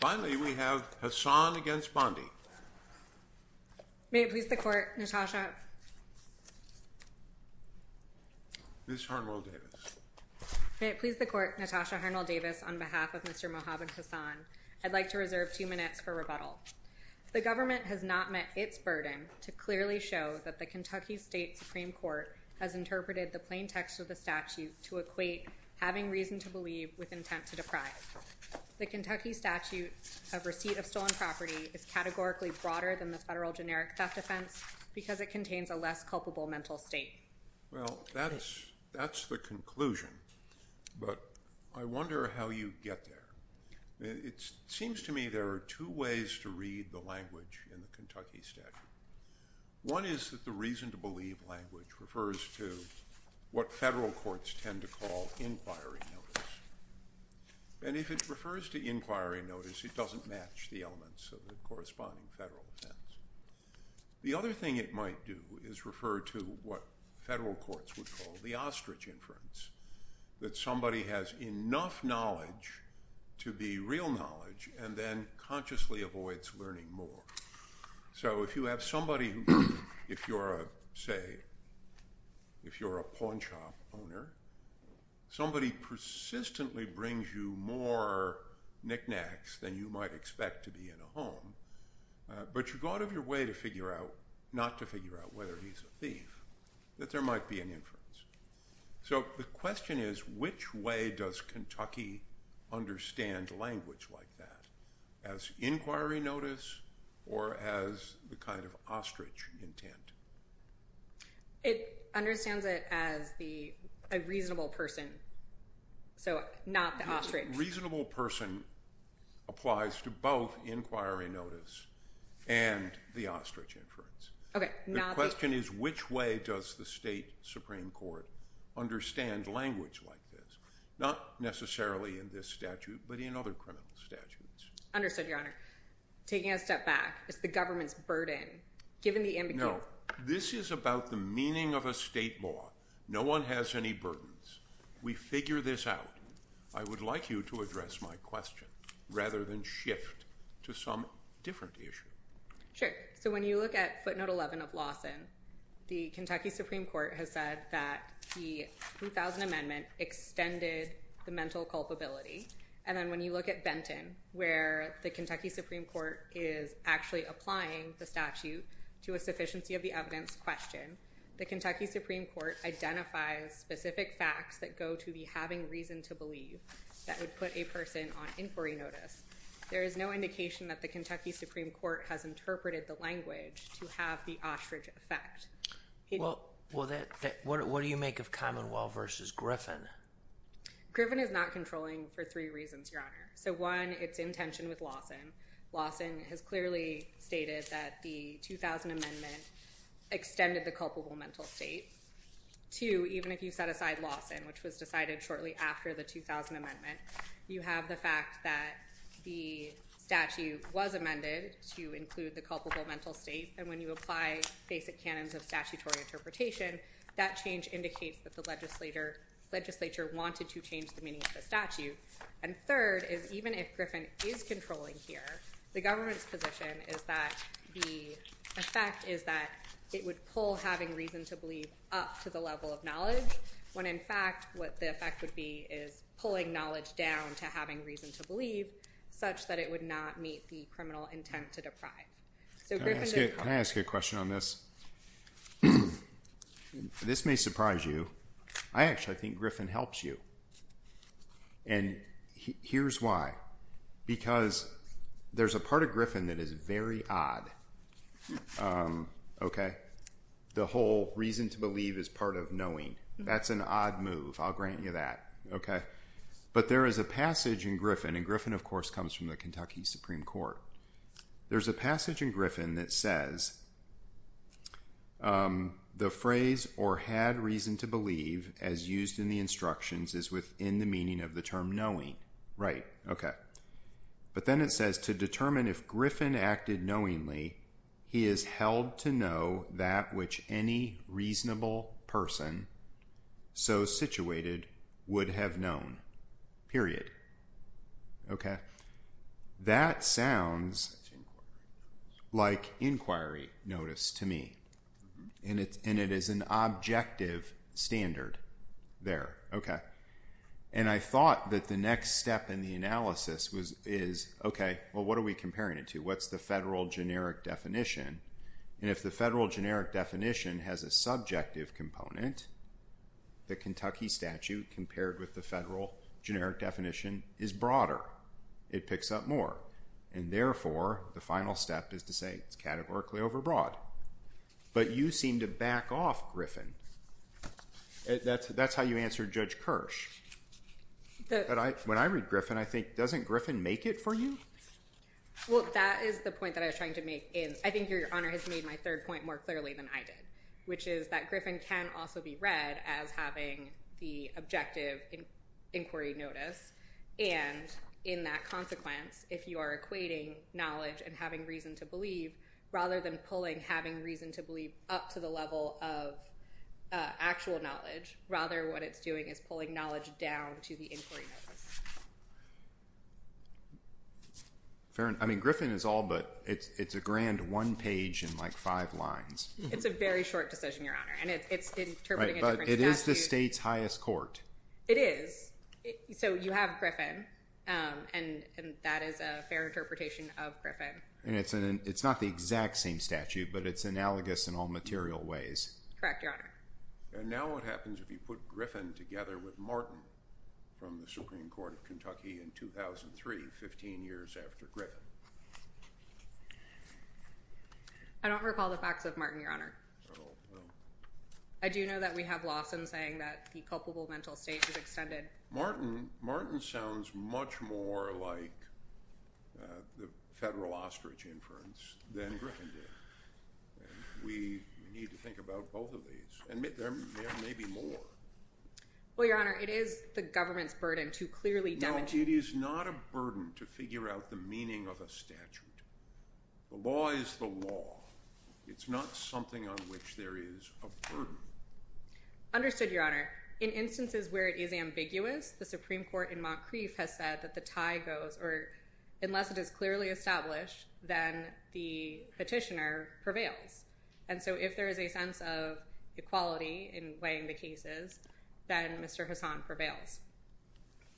Finally, we have Hassan against Bondi. May it please the Court, Natasha... Ms. Harnwell-Davis. May it please the Court, Natasha Harnwell-Davis, on behalf of Mr. Mohamed Hassan, I'd like to reserve two minutes for rebuttal. The government has not met its burden to clearly show that the Kentucky State Supreme Court has interpreted the plain text of the statute to equate having reason to believe with intent to deprive. The Kentucky statute of receipt of stolen property is categorically broader than the federal generic theft offense because it contains a less culpable mental state. Well, that's the conclusion, but I wonder how you get there. It seems to me there are two ways to read the language in the Kentucky statute. One is that the reason to believe language refers to what federal courts tend to call inquiry notice. And if it refers to inquiry notice, it doesn't match the elements of the corresponding federal offense. The other thing it might do is refer to what federal courts would call the ostrich inference, that somebody has enough knowledge to be real knowledge and then consciously avoids learning more. So if you have somebody who, if you're a, say, if you're a pawn shop owner, somebody persistently brings you more knickknacks than you might expect to be in a home, but you go out of your way to figure out, not to figure out whether he's a thief, that there might be an inference. So the question is, which way does Kentucky understand language like that? As inquiry notice or as the kind of ostrich intent? It understands it as the, a reasonable person. So not the ostrich. Reasonable person applies to both inquiry notice and the ostrich inference. Okay. The question is, which way does the state Supreme Court understand language like this? Not necessarily in this statute, but in other criminal statutes. Understood, Your Honor. Taking a step back, it's the government's burden. Given the ambiguity. No, this is about the meaning of a state law. No one has any burdens. We figure this out. I would like you to address my question rather than shift to some different issue. Sure. So when you look at footnote 11 of Lawson, the Kentucky Supreme Court has said that the 2000 amendment extended the mental culpability. And then when you look at Benton, where the Kentucky Supreme Court is actually applying the statute to a sufficiency of the evidence question, the Kentucky Supreme Court identifies specific facts that go to the having reason to believe that would put a person on inquiry notice. There is no indication that the Kentucky Supreme Court has interpreted the language to have the ostrich effect. Well, what do you make of Commonwealth versus Griffin? Griffin is not controlling for three reasons, Your Honor. So one, it's in tension with Lawson. Lawson has clearly stated that the 2000 amendment extended the culpable mental state. Two, even if you set aside Lawson, which was decided shortly after the 2000 amendment, you have the fact that the statute was amended to include the culpable mental state. And when you apply basic canons of statutory interpretation, that change indicates that the legislature wanted to change the meaning of the statute. And third is even if Griffin is controlling here, the government's position is that the effect is that it would pull having reason to believe up to the level of knowledge, when in fact, what the effect would be is pulling knowledge down to having reason to believe such that it would not meet the criminal intent to deprive. Can I ask you a question on this? This may surprise you. I actually think Griffin helps you. And here's why. Because there's a part of Griffin that is very odd. The whole reason to believe is part of knowing. That's an odd move. I'll grant you that. But there is a passage in Griffin, and Griffin, of course, comes from the Kentucky Supreme Court. There's a passage in Griffin that says, the phrase or had reason to believe as used in the instructions is within the meaning of the term knowing, right? Okay. But then it says to determine if Griffin acted knowingly, he is held to know that which any reasonable person so situated would have known, period. Okay. That sounds like inquiry notice to me. And it is an objective standard there. Okay. And I thought that the next step in the analysis is, okay, well, what are we comparing it to? What's the federal generic definition? And if the federal generic definition has a subjective component, the Kentucky statute compared with the federal generic definition is broader. It picks up more. And therefore, the final step is to say it's categorically overbroad. But you seem to back off, Griffin. That's how you answered Judge Kirsch. When I read Griffin, I think, doesn't Griffin make it for you? Well, that is the point that I was trying to make. And I think your honor has made my third point more clearly than I did, which is that Griffin can also be read as having the objective inquiry notice. And in that consequence, if you are equating knowledge and having reason to believe, rather than pulling having reason to believe up to the level of actual knowledge, rather what it's doing is pulling knowledge down to the inquiry. Fair enough. I mean, Griffin is all but, it's a grand one page in like five lines. It's a very short decision, your honor. And it's interpreting a different statute. It is the state's highest court. It is. So you have Griffin. And that is a fair interpretation of Griffin. And it's not the exact same statute, but it's analogous in all material ways. Correct, your honor. And now what happens if you put Griffin together with Martin from the Supreme Court of Kentucky in 2003, 15 years after Griffin? I don't recall the facts of Martin, your honor. I do know that we have Lawson saying that the culpable mental state is extended. Martin sounds much more like the federal ostrich inference than Griffin did. And we need to think about both of these. And there may be more. Well, your honor, it is the government's burden to clearly demonstrate. No, it is not a burden to figure out the meaning of a statute. The law is the law. It's not something on which there is a burden. Understood, your honor. In instances where it is ambiguous, the Supreme Court in Montcrieff has said that the tie goes, or unless it is clearly established, then the petitioner prevails. And so if there is a sense of equality in weighing the cases, then Mr. Hassan prevails.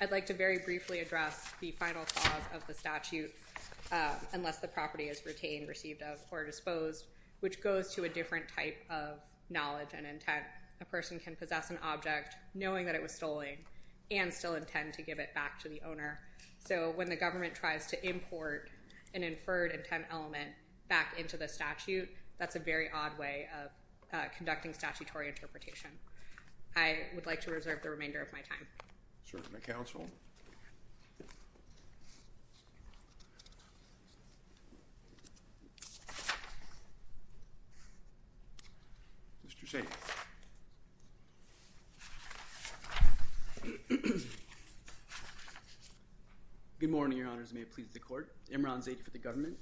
I'd like to very briefly address the final clause of the statute, unless the property is retained, received of, or disposed, which goes to a different type of knowledge and intent. A person can possess an object knowing that it was stolen and still intend to give it back to the owner. So when the government tries to import an inferred intent element back into the statute, that's a very odd way of conducting statutory interpretation. I would like to reserve the remainder of my time. Sir, to the counsel. Mr. Sainz. Good morning, your honors. May it please the court. Imran Zaid for the government.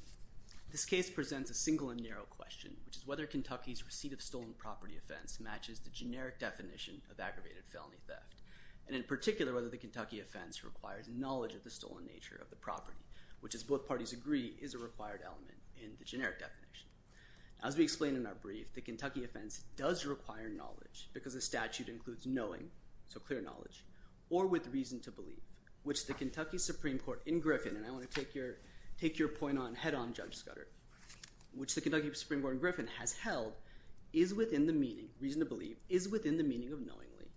This case presents a single and narrow question, which is whether Kentucky's receipt of stolen property offense matches the generic definition of aggravated felony theft. And in particular, whether the Kentucky offense requires knowledge of the stolen nature of the property, which, as both parties agree, is a required element in the generic definition. As we explained in our brief, the Kentucky offense does require knowledge, because the statute includes knowing, so clear knowledge, or with reason to believe, which the Kentucky Supreme Court in Griffin, and I want to take your point on head on, Judge Scudder, which the reason to believe is within the meaning of knowingly,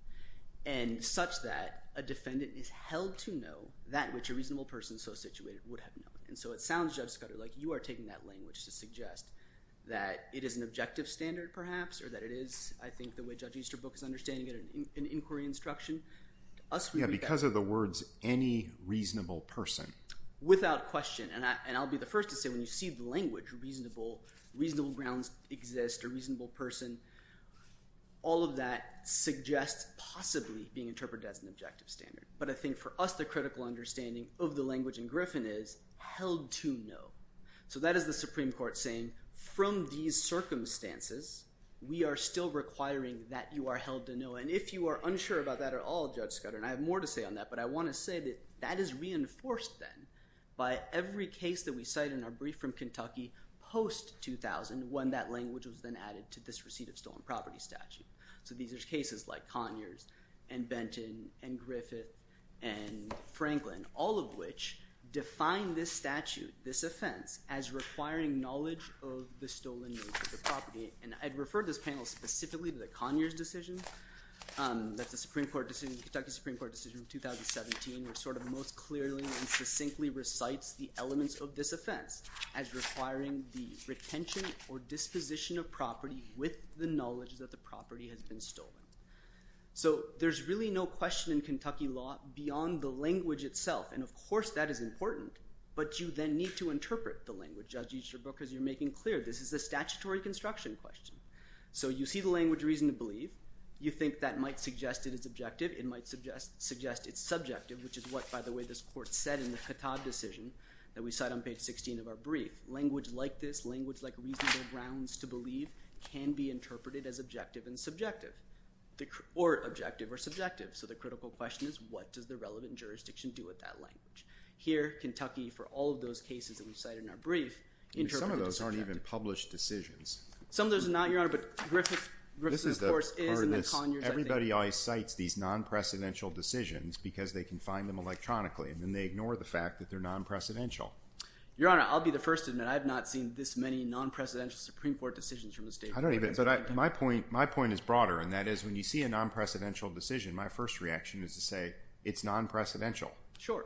and such that a defendant is held to know that which a reasonable person so situated would have known. And so it sounds, Judge Scudder, like you are taking that language to suggest that it is an objective standard, perhaps, or that it is, I think, the way Judge Easterbrook is understanding it, an inquiry instruction. To us, we would be- Because of the words, any reasonable person. Without question. And I'll be the first to say, when you see the language reasonable, reasonable grounds exist, a reasonable person, all of that suggests possibly being interpreted as an objective standard. But I think, for us, the critical understanding of the language in Griffin is held to know. So that is the Supreme Court saying, from these circumstances, we are still requiring that you are held to know. And if you are unsure about that at all, Judge Scudder, and I have more to say on that, but I want to say that that is reinforced, then, by every case that we cite in our brief from Kentucky post-2000, when that language was then added to this receipt of stolen property statute. So these are cases like Conyers and Benton and Griffith and Franklin, all of which define this statute, this offense, as requiring knowledge of the stolen nature of property. And I'd refer this panel specifically to the Conyers decision, that's the Supreme Court decision, the Kentucky Supreme Court decision of 2017, which sort of most clearly and succinctly cites the elements of this offense as requiring the retention or disposition of property with the knowledge that the property has been stolen. So there's really no question in Kentucky law beyond the language itself. And of course, that is important. But you then need to interpret the language. Judge Easterbrook, as you're making clear, this is a statutory construction question. So you see the language, reason to believe. You think that might suggest it is objective. It might suggest it's subjective, which is what, by the way, this court said in the Cotard decision that we cite on page 16 of our brief. Language like this, language like reasonable grounds to believe, can be interpreted as objective and subjective, or objective or subjective. So the critical question is, what does the relevant jurisdiction do with that language? Here, Kentucky, for all of those cases that we cite in our brief, interpret it as subjective. Some of those aren't even published decisions. Some of those are not, Your Honor, but Griffith, of course, is. Everybody always cites these non-precedential decisions because they can find them electronically, and then they ignore the fact that they're non-precedential. Your Honor, I'll be the first to admit, I have not seen this many non-precedential Supreme Court decisions from the state of Kentucky. My point is broader, and that is, when you see a non-precedential decision, my first reaction is to say, it's non-precedential. Sure.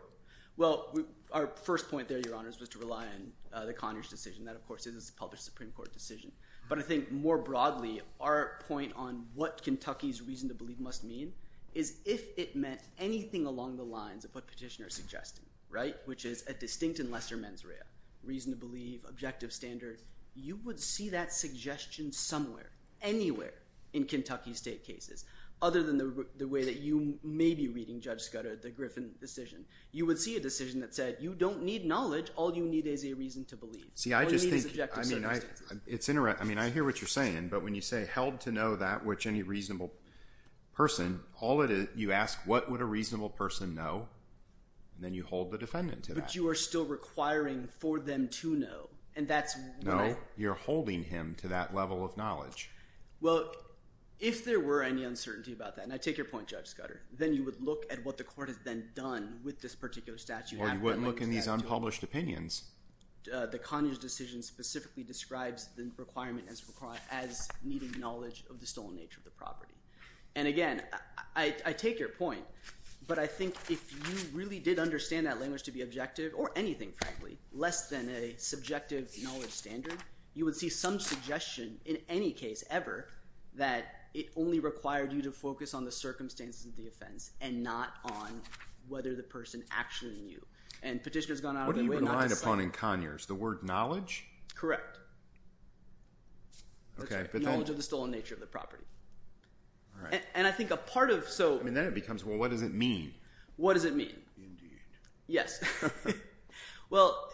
Well, our first point there, Your Honors, was to rely on the Conyers decision. That, of course, is a published Supreme Court decision. But I think, more broadly, our point on what Kentucky's reason to believe must mean is, if it meant anything along the lines of what Petitioner is suggesting, which is a distinct and lesser mens rea, reason to believe, objective standard, you would see that suggestion somewhere, anywhere, in Kentucky state cases, other than the way that you may be reading Judge Scudder, the Griffith decision. You would see a decision that said, you don't need knowledge. All you need is a reason to believe. All you need is objective standard. It's interesting. I hear what you're saying. But when you say, held to know that which any reasonable person, all it is, you ask, what would a reasonable person know? Then you hold the defendant to that. But you are still requiring for them to know. And that's what I— No. You're holding him to that level of knowledge. Well, if there were any uncertainty about that, and I take your point, Judge Scudder, then you would look at what the court has then done with this particular statute— Well, you wouldn't look in these unpublished opinions. The Conyers decision specifically describes the requirement as needing knowledge of the stolen nature of the property. And again, I take your point. But I think if you really did understand that language to be objective, or anything, frankly, less than a subjective knowledge standard, you would see some suggestion, in any case ever, that it only required you to focus on the circumstances of the offense and not on whether the person actually knew. And Petitioner's gone out of his way— The word knowledge? Correct. Knowledge of the stolen nature of the property. And I think a part of— I mean, then it becomes, well, what does it mean? What does it mean? Yes. Well,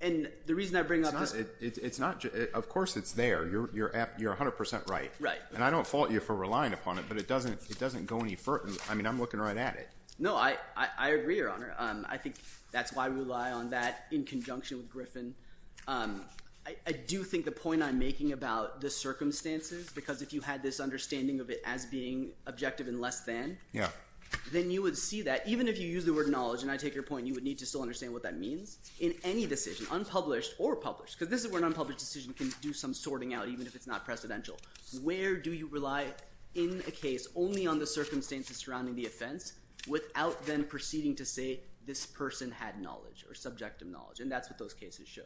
and the reason I bring up this— It's not—of course it's there. You're 100 percent right. Right. And I don't fault you for relying upon it, but it doesn't go any further. I mean, I'm looking right at it. No, I agree, Your Honor. I think that's why we rely on that in conjunction with Griffin. I do think the point I'm making about the circumstances, because if you had this understanding of it as being objective and less than, then you would see that, even if you use the word knowledge, and I take your point, you would need to still understand what that means, in any decision, unpublished or published, because this is where an unpublished decision can do some sorting out, even if it's not precedential. Where do you rely in a case only on the circumstances surrounding the offense without then proceeding to say this person had knowledge or subjective knowledge? And that's what those cases show.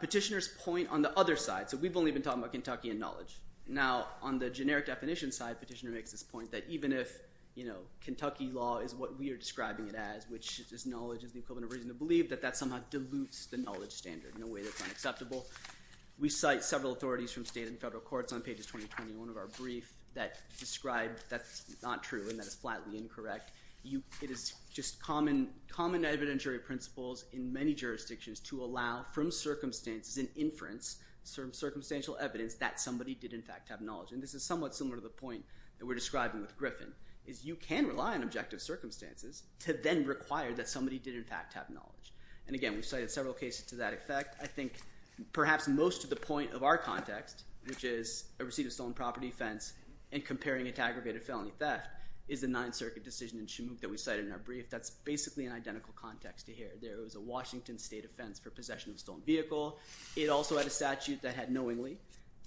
Petitioner's point on the other side, so we've only been talking about Kentucky and knowledge. Now, on the generic definition side, Petitioner makes this point that even if, you know, Kentucky law is what we are describing it as, which is knowledge is the equivalent of reason to believe, that that somehow dilutes the knowledge standard in a way that's unacceptable. We cite several authorities from state and federal courts on pages 2021 of our brief that describe that's not true and that it's flatly incorrect. It is just common evidentiary principles in many jurisdictions to allow, from circumstances and inference, certain circumstantial evidence that somebody did in fact have knowledge. And this is somewhat similar to the point that we're describing with Griffin, is you can rely on objective circumstances to then require that somebody did in fact have knowledge. And again, we've cited several cases to that effect. I think perhaps most of the point of our context, which is a receipt of stolen property offense and comparing it to aggravated felony theft, is the Ninth Circuit decision in Shamook that we cited in our brief. That's basically an identical context to here. There was a Washington state offense for possession of a stolen vehicle. It also had a statute that had knowingly.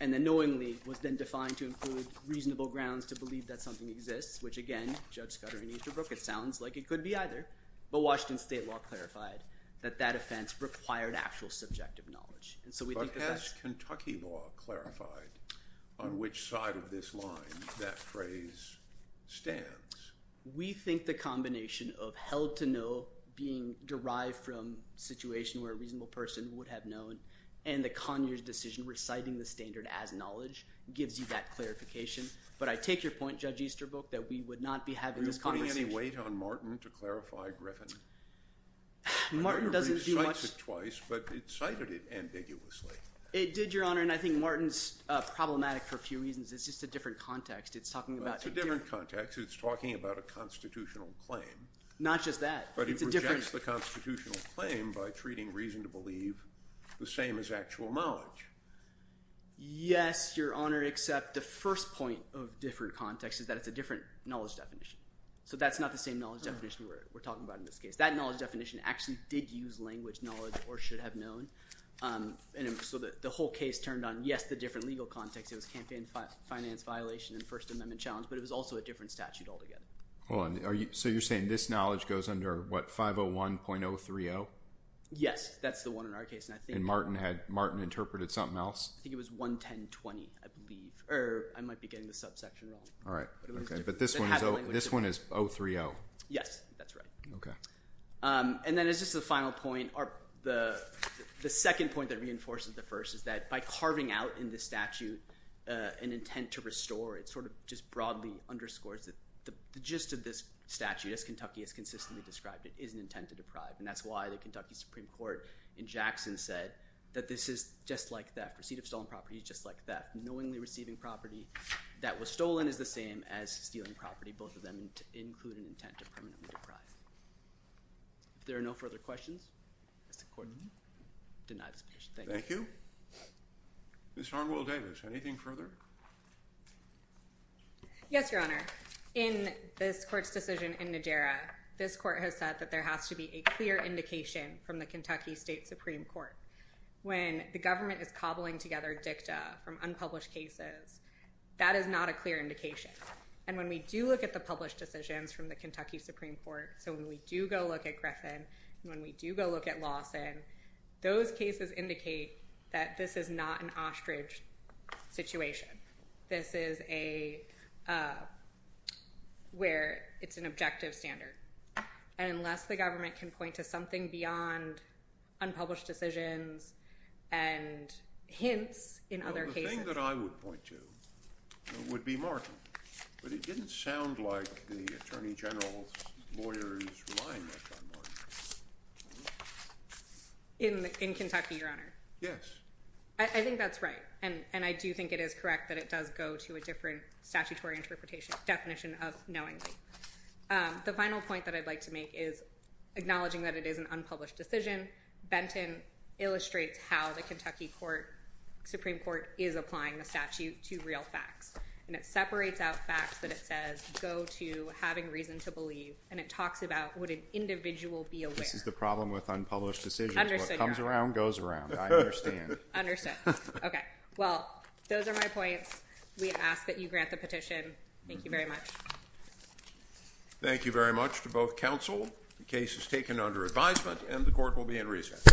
And the knowingly was then defined to include reasonable grounds to believe that something exists, which again, Judge Scudder and Easterbrook, it sounds like it could be either. But Washington state law clarified that that offense required actual subjective knowledge. But has Kentucky law clarified on which side of this line that phrase stands? We think the combination of held to know being derived from a situation where a reasonable person would have known and the Conyers decision reciting the standard as knowledge gives you that clarification. But I take your point, Judge Easterbrook, that we would not be putting any weight on Martin to clarify Griffin. Martin doesn't do much twice, but it cited it ambiguously. It did, Your Honor. And I think Martin's problematic for a few reasons. It's just a different context. It's talking about a different context. It's talking about a constitutional claim. Not just that, but it's a different constitutional claim by treating reason to believe the same as actual knowledge. Yes, Your Honor, except the first point of different context is that it's a different knowledge definition. So that's not the same knowledge definition we're talking about in this case. That knowledge definition actually did use language knowledge or should have known. So the whole case turned on, yes, the different legal context. It was campaign finance violation and first amendment challenge, but it was also a different statute altogether. So you're saying this knowledge goes under what, 501.030? Yes, that's the one in our case. And Martin interpreted something else? I think it was 11020, I believe, or I might be getting the subsection wrong. But this one is 030. Yes, that's right. And then it's just the final point. The second point that reinforces the first is that by carving out in this statute an intent to restore, it sort of just broadly underscores that the gist of this statute as Kentucky has consistently described it is an intent to deprive. And that's why the Kentucky Supreme Court in Jackson said that this is just like theft. Receipt of stolen property is just like theft. Knowingly receiving property that was stolen is the same as stealing property. Both of them include an intent to permanently deprive. If there are no further questions, Mr. Court, I deny this petition. Thank you. Thank you. Ms. Arnwell-Davis, anything further? Yes, Your Honor. In this court's decision in Najera, this court has said that there has to be a clear indication from the Kentucky State Supreme Court when the government is cobbling together dicta from unpublished cases. That is not a clear indication. And when we do look at the published decisions from the Kentucky Supreme Court, so when we do go look at Griffin and when we do go look at Lawson, those cases indicate that this is not an ostrich situation. This is a where it's an objective standard. And unless the government can point to something beyond unpublished decisions and hints in other cases. The thing that I would point to would be Martin. But it didn't sound like the Attorney General's lawyer is relying on Martin. In Kentucky, Your Honor? Yes. I think that's right. And I do think it is correct that it does go to a different statutory interpretation definition of knowingly. The final point that I'd like to make is acknowledging that it is an unpublished decision. Benton illustrates how the Kentucky Supreme Court is applying the statute to real facts. And it separates out facts that it says go to having reason to believe. And it talks about would an individual be aware? This is the problem with unpublished decisions. What comes around goes around. I understand. Understood. Okay. Well, those are my points. We ask that you grant the petition. Thank you very much. Thank you very much to both counsel. The case is taken under advisement and the court will be in recess.